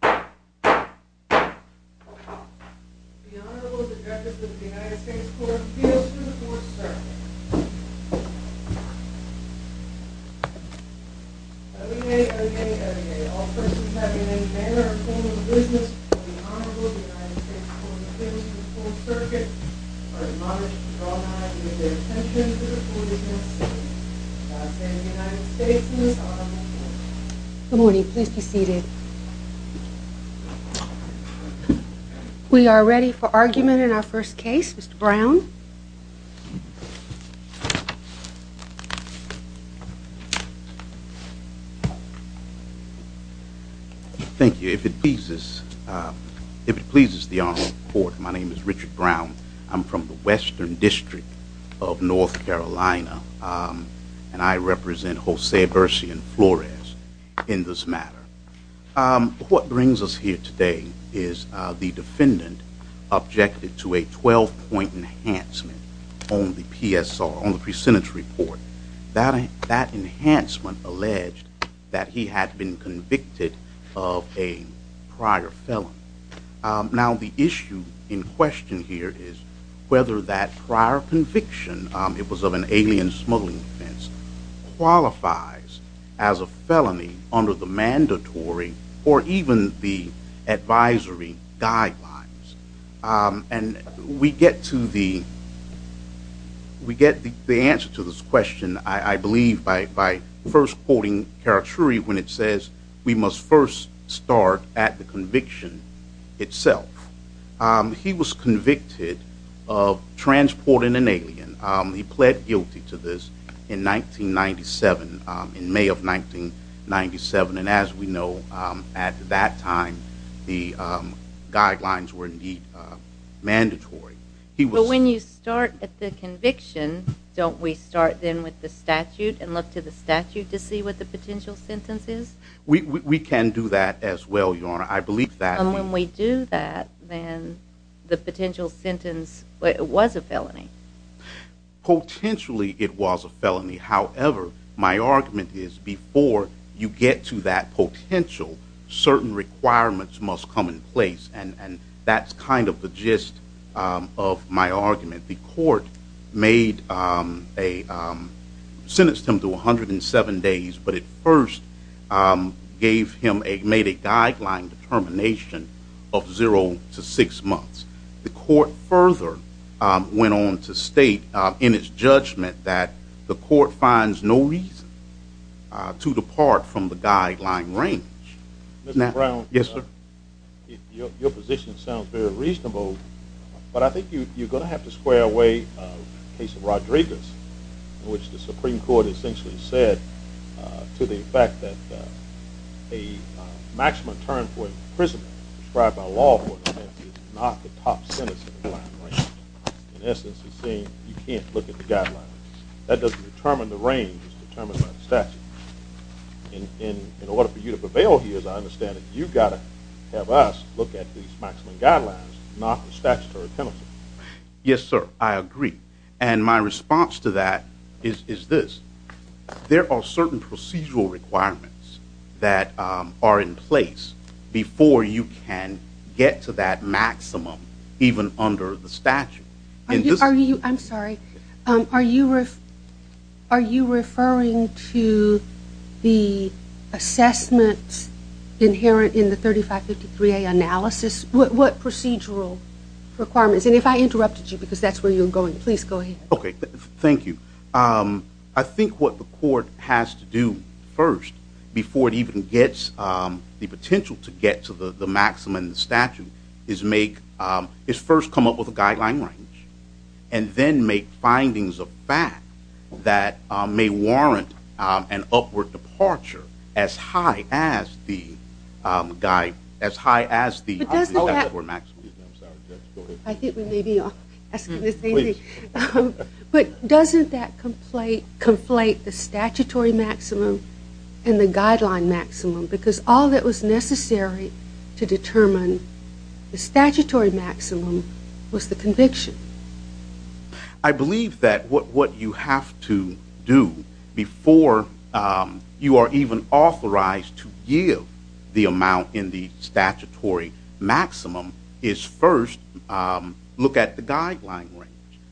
The Honorable Defector of the United States Court appeals to the Fourth Circuit. O-E-A, O-E-A, O-E-A. All persons having a name, manner, or form of business of the Honorable United States Court of Appeals to the Fourth Circuit are admonished to draw nigh with their attention to the court of evidence. I say to the United States and this Honorable Court. Good morning. Please be seated. We are ready for argument in our first case. Mr. Brown. Thank you. If it pleases the Honorable Court, my name is Richard Brown. I'm from the Western District of North Carolina and I represent Jose Bercian-Flores in this matter. What brings us here today is the defendant objected to a 12-point enhancement on the PSR, on the pre-sentence report. That enhancement alleged that he had been convicted of a prior felony. Now the issue in question here is whether that prior conviction, it was of an alien smuggling offense, qualifies as a felony under the mandatory or even the advisory guidelines. We get the answer to this question, I believe, by first quoting Caraturi when it says we must first start at the conviction itself. He was convicted of transporting an alien. He pled guilty to this in 1997, in May of 1997, and as we know at that time the guidelines were indeed mandatory. But when you start at the conviction, don't we start then with the statute and look to the statute to see what the potential sentence is? We can do that as well, Your Honor. I believe that... And when we do that, then the potential sentence was a felony. Potentially it was a felony. However, my argument is before you get to that potential, certain requirements must come in place. And that's kind of the gist of my argument. The court sentenced him to 107 days, but it first made a guideline determination of zero to six months. The court further went on to state in its judgment that the court finds no reason to depart from the guideline range. Mr. Brown, your position sounds very reasonable, but I think you're going to have to square away the case of Rodriguez, in which the Supreme Court essentially said to the effect that a maximum term for a prisoner prescribed by law is not the top sentence in the guideline range. In essence, it's saying you can't look at the guidelines. That doesn't determine the range, it's determined by the statute. In order for you to prevail here, as I understand it, you've got to have us look at these maximum guidelines, not the statutory penalty. Yes, sir. I agree. And my response to that is this. There are certain procedural requirements that are in place before you can get to that maximum, even under the statute. I'm sorry. Are you referring to the assessments inherent in the 3553A analysis? What procedural requirements? And if I interrupted you, because that's where you're going, please go ahead. Okay, thank you. I think what the court has to do first, before it even gets the potential to get to the maximum in the statute, is first come up with a guideline range, and then make findings of fact that may warrant an upward departure as high as the maximum. I think we may be asking the same thing. But doesn't that conflate the statutory maximum and the guideline maximum? Because all that was necessary to determine the statutory maximum was the conviction. I believe that what you have to do before you are even authorized to give the amount in the statutory maximum is first look at the guideline range.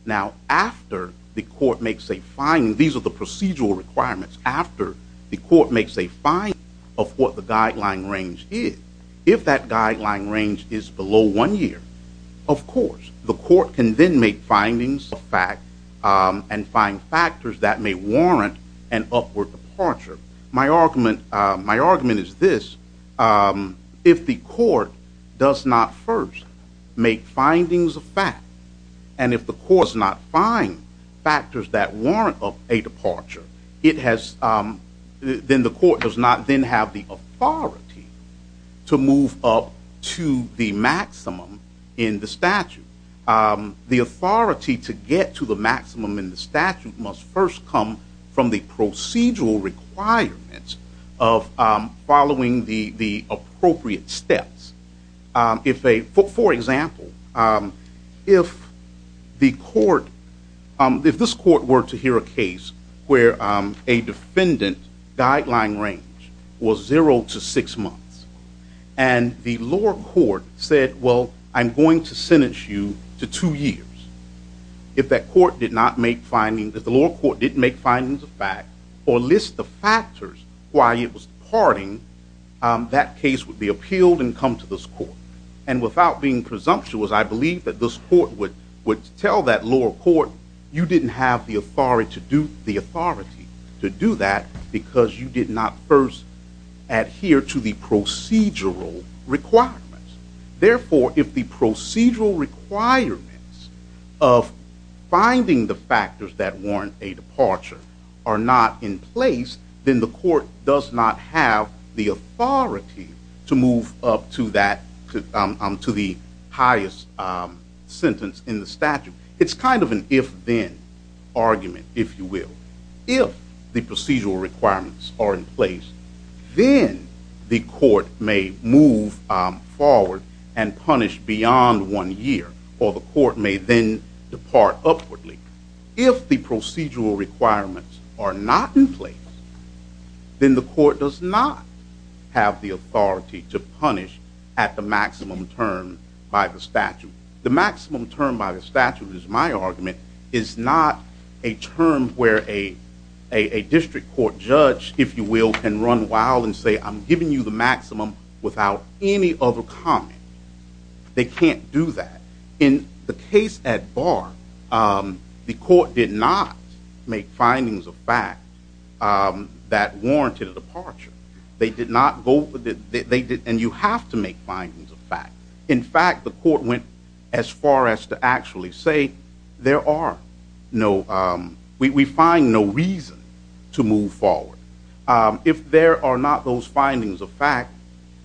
Now, after the court makes a finding, these are the procedural requirements, after the court makes a finding of what the guideline range is, if that guideline range is below one year, of course, the court can then make findings of fact and find factors that may warrant an upward departure. My argument is this. If the court does not first make findings of fact, and if the court does not find factors that warrant a departure, then the court does not then have the authority to move up to the maximum in the statute. The authority to get to the maximum in the statute must first come from the procedural requirements of following the appropriate steps. For example, if this court were to hear a case where a defendant guideline range was zero to six months, and the lower court said, well, I'm going to sentence you to two years. If the lower court did not make findings of fact or list the factors why it was departing, that case would be appealed and come to this court. And without being presumptuous, I believe that this court would tell that lower court you didn't have the authority to do that because you did not first adhere to the procedural requirements. Therefore, if the procedural requirements of finding the factors that warrant a departure are not in place, then the court does not have the authority to move up to the highest sentence in the statute. It's kind of an if-then argument, if you will. requirements are in place, then the court may move forward and punish beyond one year, or the court may then depart upwardly. If the procedural requirements are not in place, then the court does not have the authority to punish at the maximum term by the statute. The maximum term by the statute, is my argument, is not a term where a district court judge, if you will, can run wild and say, I'm giving you the maximum without any other comment. They can't do that. In the case at Barr, the court did not make findings of fact that warranted a departure. And you have to make findings of fact. In fact, the court went as far as to actually say, we find no reason to move forward. If there are not those findings of fact,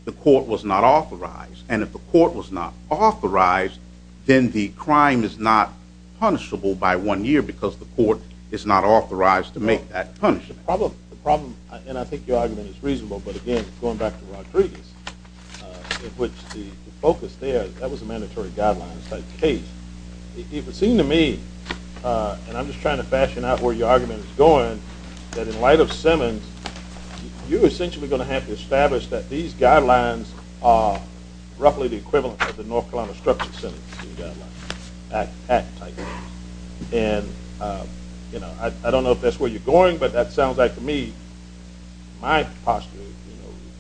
the court was not authorized. And if the court was not authorized, then the crime is not punishable by one year because the court is not authorized to make that punishment. The problem, and I think your argument is reasonable, but again, going back to Rodriguez, in which the focus there, that was a mandatory guidelines type case. It would seem to me, and I'm just trying to fashion out where your argument is going, that in light of Simmons, you're essentially going to have to establish that these guidelines are roughly the equivalent of the North Carolina Structural Center guidelines, act type. And I don't know if that's where you're going, but that sounds like to me, my posture,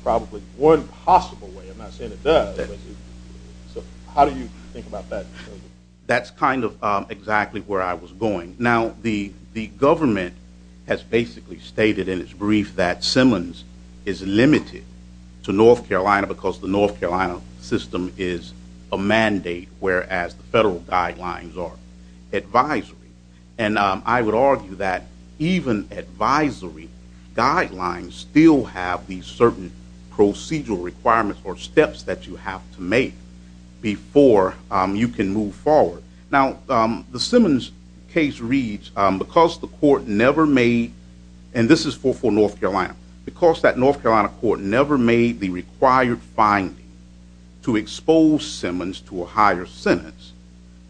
probably one possible way, I'm not saying it does, but how do you think about that? That's kind of exactly where I was going. Now, the government has basically stated in its brief that Simmons is limited to North Carolina because the North Carolina system is a mandate, whereas the federal guidelines are advisory. And I would argue that even advisory guidelines still have these certain procedural requirements or steps that you have to make before you can move forward. Now, the Simmons case reads, because the court never made, and this is for North Carolina, because that North Carolina court never made the required finding to expose Simmons to a higher sentence,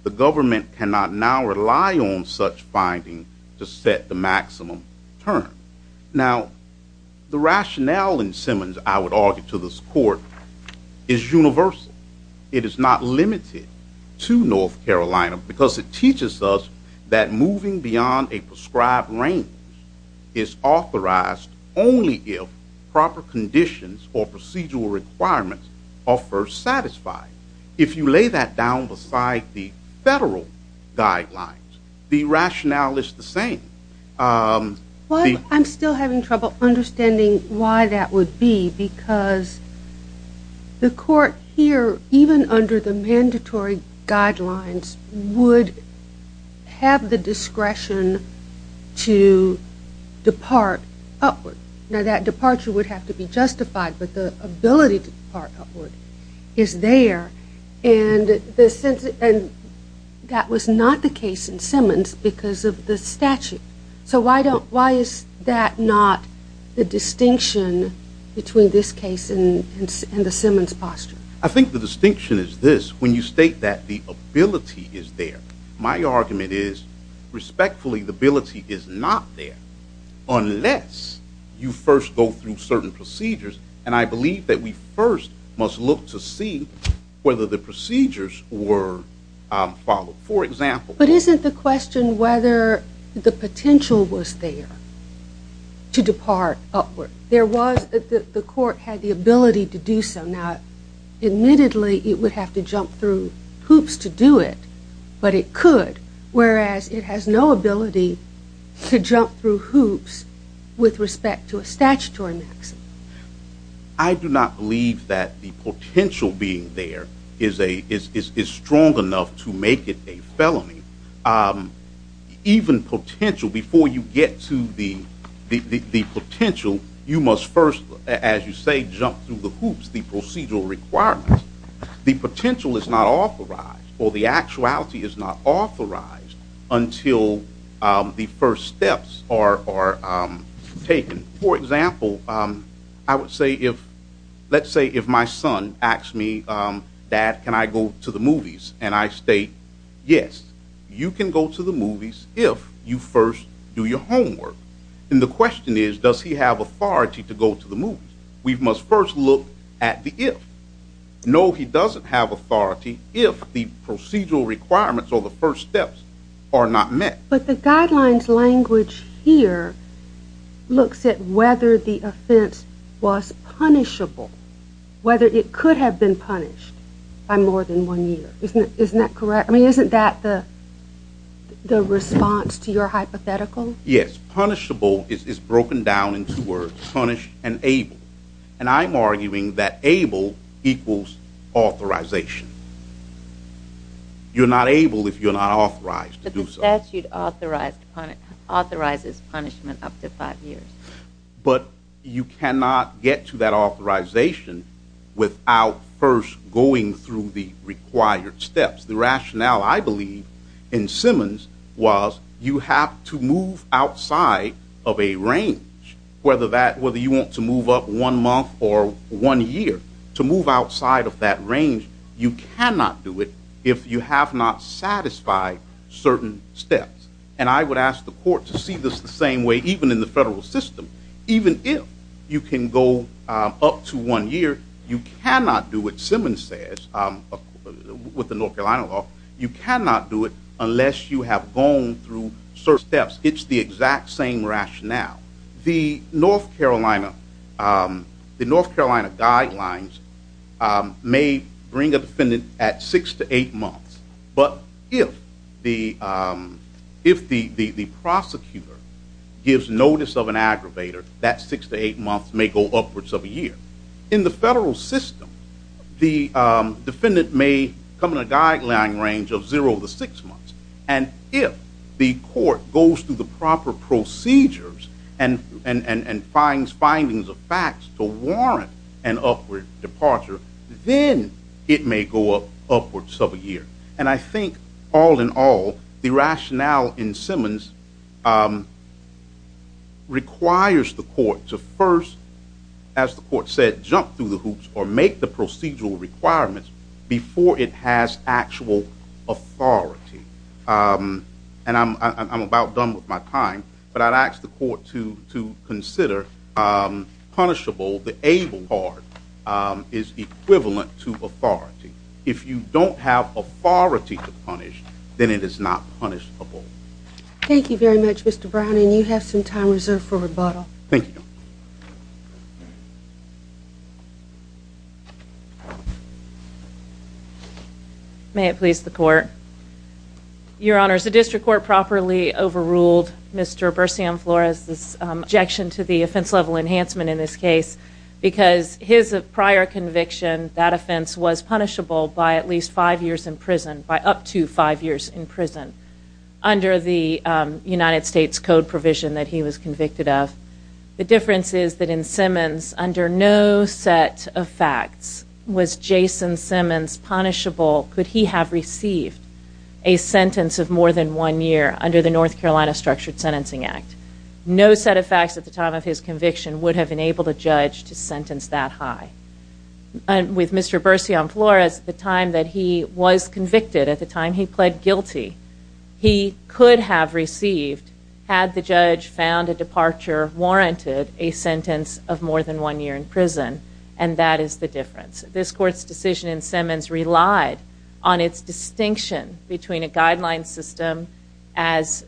the government cannot now rely on such finding to set the maximum term. Now, the rationale in Simmons, I would argue to this court, is universal. It is not limited to North Carolina because it teaches us that moving beyond a prescribed range is authorized only if proper conditions or procedural requirements are first satisfied. If you lay that down beside the federal guidelines, the rationale is the same. Well, I'm still having trouble understanding why that would be because the court here, even under the mandatory guidelines, would have the discretion to depart upward. Now, that departure would have to be justified, but the ability to depart upward is there. And that was not the case in Simmons because of the statute. So why is that not the distinction between this case and the Simmons posture? I think the distinction is this. When you state that the ability is there, my argument is, respectfully, the ability is not there unless you first go through certain procedures. And I believe that we first must look to see whether the procedures were followed. For example, But isn't the question whether the potential was there to depart upward? There was, the court had the ability to do so. Now, admittedly, it would have to jump through hoops to do it, but it could, whereas it has no ability to jump through hoops with respect to a statutory maximum. I do not believe that the potential being there is strong enough to make it a felony. Even potential, before you get to the potential, you must first, as you say, jump through the hoops, the procedural requirements. The potential is not authorized, or the actuality is not authorized, until the first steps are taken. For example, I would say if, let's say if my son asks me, Dad, can I go to the movies? And I state, yes, you can go to the movies if you first do your homework. And the question is, does he have authority to go to the movies? We must first look at the if. No, he doesn't have authority if the procedural requirements or the first steps are not met. But the guidelines language here looks at whether the offense was punishable, whether it could have been punished by more than one year. Isn't that correct? I mean, isn't that the response to your hypothetical? Yes, punishable is broken down in two words, punished and able. And I'm arguing that able equals authorization. You're not able if you're not authorized to do so. But the statute authorizes punishment up to five years. But you cannot get to that authorization without first going through the required steps. The rationale, I believe, in Simmons was you have to move outside of a range, whether you want to move up one month or one year. To move outside of that range, you cannot do it if you have not satisfied certain steps. And I would ask the court to see this the same way even in the federal system. Even if you can go up to one year, you cannot do it, Simmons says, with the North Carolina law. You cannot do it unless you have gone through certain steps. It's the exact same rationale. Now, the North Carolina guidelines may bring a defendant at six to eight months. But if the prosecutor gives notice of an aggravator, that six to eight months may go upwards of a year. In the federal system, the defendant may come in a guideline range of zero to six months. And if the court goes through the proper procedures and finds findings of facts to warrant an upward departure, then it may go upwards of a year. And I think, all in all, the rationale in Simmons requires the court to first, as the court said, jump through the hoops or make the procedural requirements before it has actual authority. And I'm about done with my time. But I'd ask the court to consider punishable. The ABLE card is equivalent to authority. If you don't have authority to punish, then it is not punishable. Thank you very much, Mr. Brown. And you have some time reserved for rebuttal. Thank you. May it please the court. Your Honor, has the district court properly overruled Mr. Bursiam Flores' objection to the offense level enhancement in this case? Because his prior conviction, that offense was punishable by at least five years in prison, by up to five years in prison, under the United States Code provision that he was convicted of. The difference is that in Simmons, under no set of facts was Jason Simmons punishable, could he have received a sentence of more than one year under the North Carolina Structured Sentencing Act. No set of facts at the time of his conviction would have enabled a judge to sentence that high. With Mr. Bursiam Flores, the time that he was convicted, at the time he pled guilty, he could have received, had the judge found a departure warranted, a sentence of more than one year in prison. And that is the difference. This court's decision in Simmons relied on its distinction between a guideline system as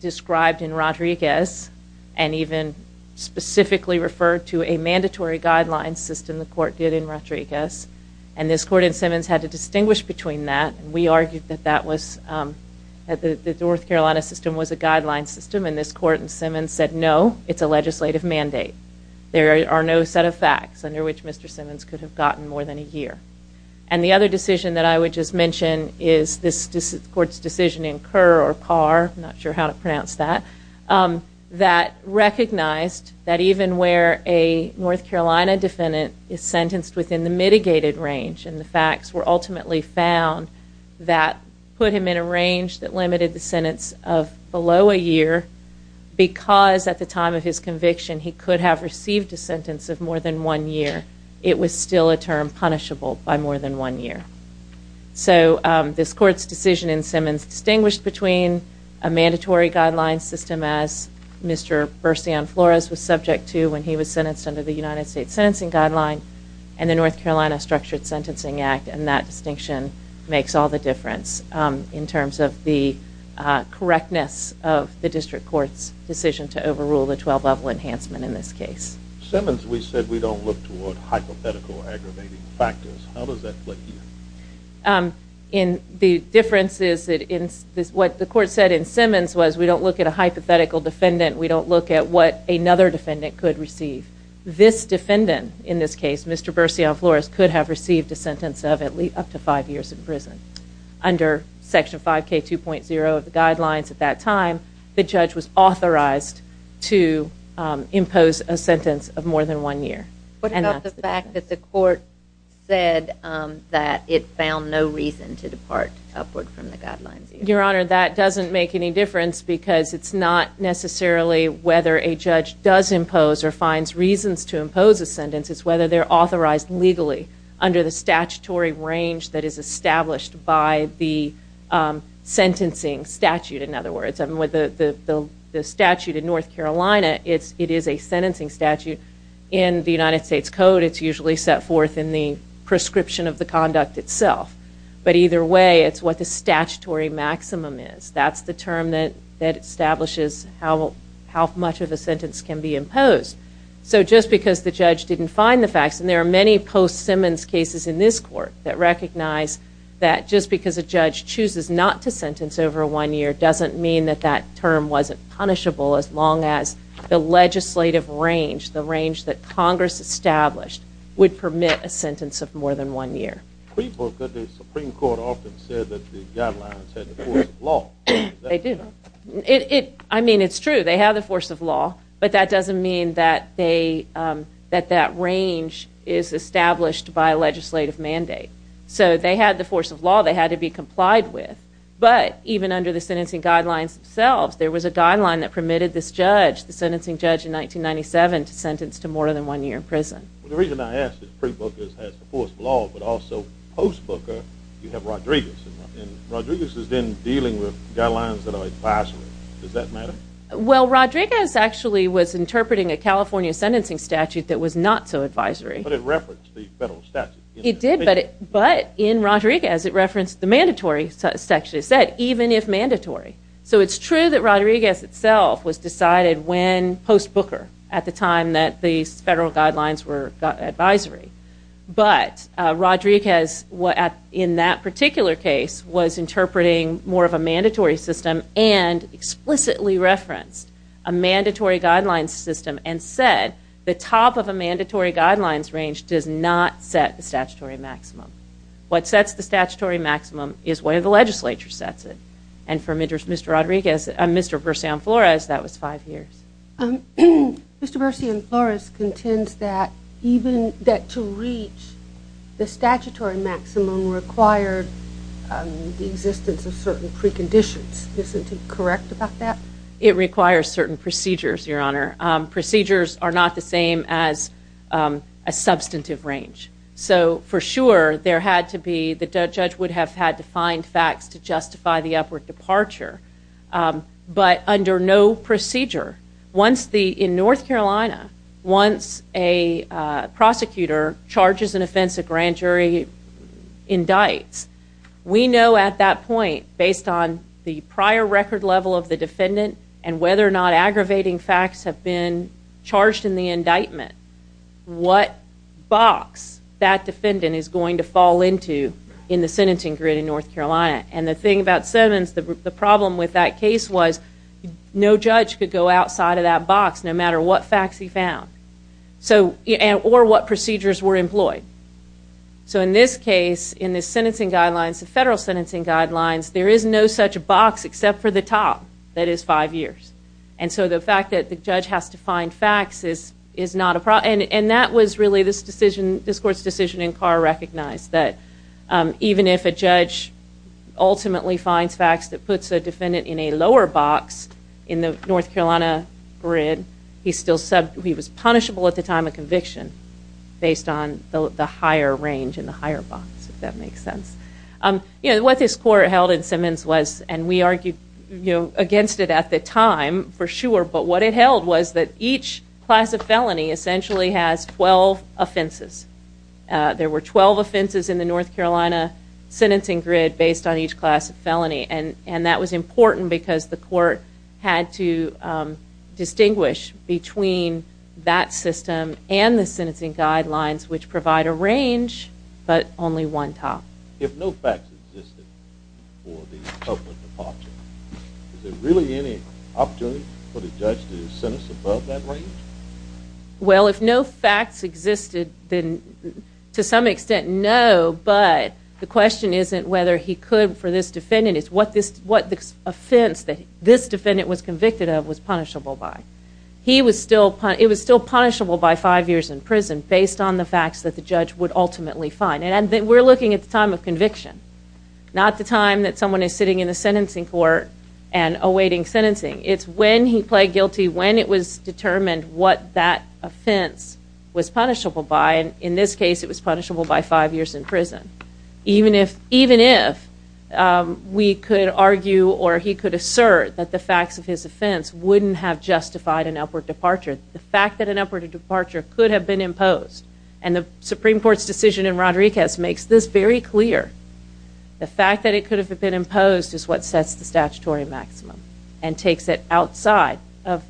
described in Rodriguez, and even specifically referred to a mandatory guideline system the court did in Rodriguez. And this court in Simmons had to distinguish between that. We argued that that was, that the North Carolina system was a guideline system, and this court in Simmons said no, it's a legislative mandate. There are no set of facts under which Mr. Simmons could have gotten more than a year. And the other decision that I would just mention is this court's decision in Kerr or Parr, I'm not sure how to pronounce that, that recognized that even where a North Carolina defendant is sentenced within the mitigated range, and the facts were ultimately found that put him in a range that limited the sentence of below a year, because at the time of his conviction he could have received a sentence of more than one year, it was still a term punishable by more than one year. So this court's decision in Simmons distinguished between a mandatory guideline system, as Mr. Bersion Flores was subject to when he was sentenced under the United States Sentencing Guideline, and the North Carolina Structured Sentencing Act, and that distinction makes all the difference in terms of the correctness of the district court's decision to overrule the 12-level enhancement in this case. Simmons, we said we don't look toward hypothetical aggravating factors. How does that work here? The difference is that what the court said in Simmons was we don't look at a hypothetical defendant, we don't look at what another defendant could receive. This defendant in this case, Mr. Bersion Flores, could have received a sentence of at least up to five years in prison. Under Section 5K2.0 of the guidelines at that time, the judge was authorized to impose a sentence of more than one year. What about the fact that the court said that it found no reason to depart upward from the guidelines? Your Honor, that doesn't make any difference, because it's not necessarily whether a judge does impose or finds reasons to impose a sentence, it's whether they're authorized legally under the statutory range that is established by the sentencing statute. In other words, the statute in North Carolina, it is a sentencing statute. In the United States Code, it's usually set forth in the prescription of the conduct itself. But either way, it's what the statutory maximum is. That's the term that establishes how much of a sentence can be imposed. So just because the judge didn't find the facts, and there are many post-Simmons cases in this court that recognize that just because a judge chooses not to sentence over one year doesn't mean that that term wasn't punishable as long as the legislative range, the range that Congress established, would permit a sentence of more than one year. But the Supreme Court often said that the guidelines had the force of law. They did. I mean, it's true. They have the force of law, but that doesn't mean that that range is established by a legislative mandate. So they had the force of law they had to be complied with. But even under the sentencing guidelines themselves, there was a guideline that permitted this judge, the sentencing judge in 1997, to sentence to more than one year in prison. The reason I ask is pre-Booker has the force of law, but also post-Booker, you have Rodriguez. And Rodriguez has been dealing with guidelines that are advisory. Does that matter? Well, Rodriguez actually was interpreting a California sentencing statute that was not so advisory. But it referenced the federal statute. It did, but in Rodriguez it referenced the mandatory section. It said, even if mandatory. So it's true that Rodriguez itself was decided when post-Booker at the time that these federal guidelines were advisory. But Rodriguez, in that particular case, was interpreting more of a mandatory system and explicitly referenced a mandatory guidelines system and said, the top of a mandatory guidelines range does not set the statutory maximum. What sets the statutory maximum is where the legislature sets it. And for Mr. Rodriguez, Mr. Bersian-Flores, that was five years. Mr. Bersian-Flores contends that to reach the statutory maximum required the existence of certain preconditions. Isn't he correct about that? It requires certain procedures, Your Honor. Procedures are not the same as a substantive range. So, for sure, the judge would have had to find facts to justify the upward departure. But under no procedure, in North Carolina, once a prosecutor charges an offense, a grand jury indicts, we know at that point, based on the prior record level of the defendant and whether or not aggravating facts have been charged in the indictment, what box that defendant is going to fall into in the sentencing grid in North Carolina. And the thing about Simmons, the problem with that case was no judge could go outside of that box, no matter what facts he found or what procedures were employed. So in this case, in the sentencing guidelines, the federal sentencing guidelines, there is no such box except for the top that is five years. And so the fact that the judge has to find facts is not a problem. And that was really this court's decision in Carr recognized, that even if a judge ultimately finds facts that puts a defendant in a lower box in the North Carolina grid, he was punishable at the time of conviction based on the higher range and the higher box, if that makes sense. What this court held in Simmons was, and we argued against it at the time, for sure, but what it held was that each class of felony essentially has 12 offenses. There were 12 offenses in the North Carolina sentencing grid based on each class of felony. And that was important because the court had to distinguish between that system and the sentencing guidelines, which provide a range, but only one top. If no facts existed for the public departure, is there really any opportunity for the judge to sentence above that range? Well, if no facts existed, then to some extent, no, but the question isn't whether he could for this defendant. It's what this offense that this defendant was convicted of was punishable by. It was still punishable by five years in prison based on the facts that the judge would ultimately find. And we're looking at the time of conviction, not the time that someone is sitting in the sentencing court and awaiting sentencing. It's when he pled guilty, when it was determined what that offense was punishable by. In this case, it was punishable by five years in prison, even if we could argue or he could assert that the facts of his offense wouldn't have justified an upward departure. The fact that an upward departure could have been imposed, and the Supreme Court's decision in Rodriguez makes this very clear. The fact that it could have been imposed is what sets the statutory maximum and takes it outside of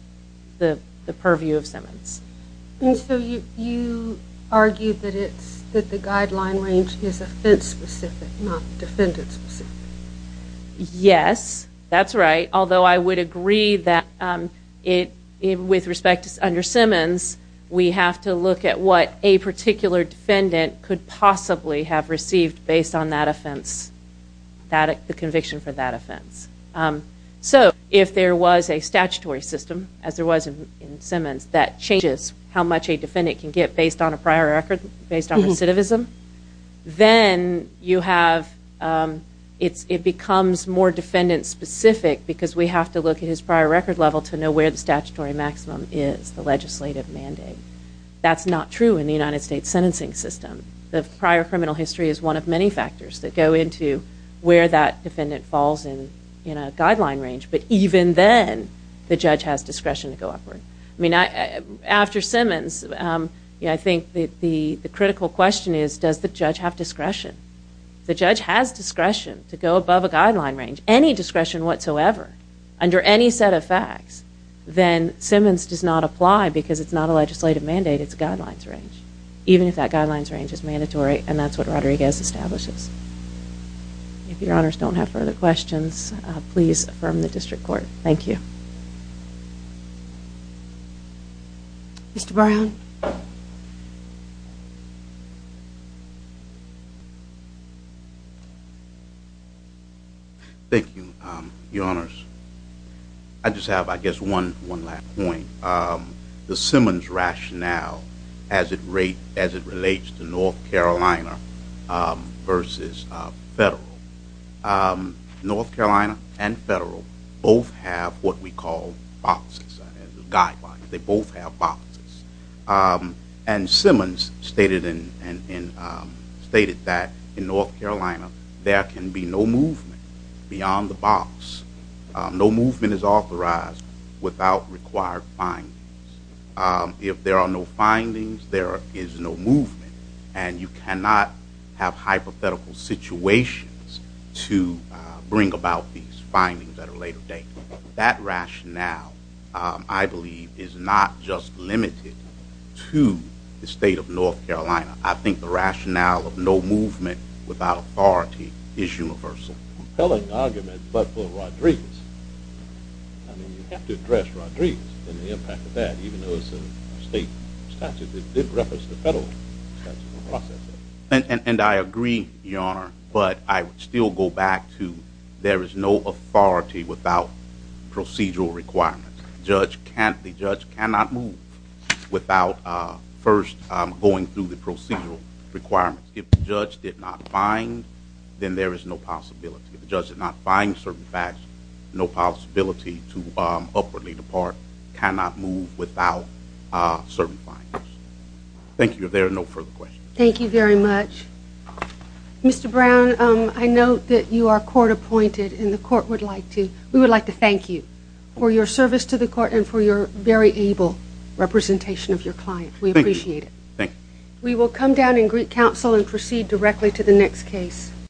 the purview of Simmons. And so you argue that the guideline range is offense-specific, not defendant-specific? Yes, that's right, although I would agree that with respect to under Simmons, we have to look at what a particular defendant could possibly have received based on that offense, the conviction for that offense. So if there was a statutory system, as there was in Simmons, that changes how much a defendant can get based on a prior record, based on recidivism, then it becomes more defendant-specific because we have to look at his prior record level to know where the statutory maximum is, the legislative mandate. That's not true in the United States sentencing system. The prior criminal history is one of many factors that go into where that defendant falls in a guideline range. But even then, the judge has discretion to go upward. After Simmons, I think the critical question is, does the judge have discretion? The judge has discretion to go above a guideline range, any discretion whatsoever, under any set of facts, then Simmons does not apply because it's not a legislative mandate. It's a guidelines range, even if that guidelines range is mandatory, and that's what Rodriguez establishes. If Your Honors don't have further questions, please affirm the district court. Thank you. Mr. Brown? Thank you. Thank you, Your Honors. I just have, I guess, one last point. The Simmons rationale as it relates to North Carolina versus federal. North Carolina and federal both have what we call boxes, guidelines. They both have boxes. And Simmons stated that in North Carolina, there can be no movement beyond the box. No movement is authorized without required findings. If there are no findings, there is no movement. And you cannot have hypothetical situations to bring about these findings at a later date. That rationale, I believe, is not just limited to the state of North Carolina. I think the rationale of no movement without authority is universal. It's a compelling argument, but for Rodriguez, I mean, you have to address Rodriguez and the impact of that, even though it's a state statute that did reference the federal process. And I agree, Your Honor, but I would still go back to there is no authority without procedural requirements. The judge cannot move without first going through the procedural requirements. If the judge did not find, then there is no possibility. If the judge did not find certain facts, no possibility to upwardly depart, cannot move without certain findings. Thank you. If there are no further questions. Thank you very much. Mr. Brown, I note that you are court appointed, and the court would like to thank you for your service to the court and for your very able representation of your client. We appreciate it. Thank you. We will come down in Greek Council and proceed directly to the next case.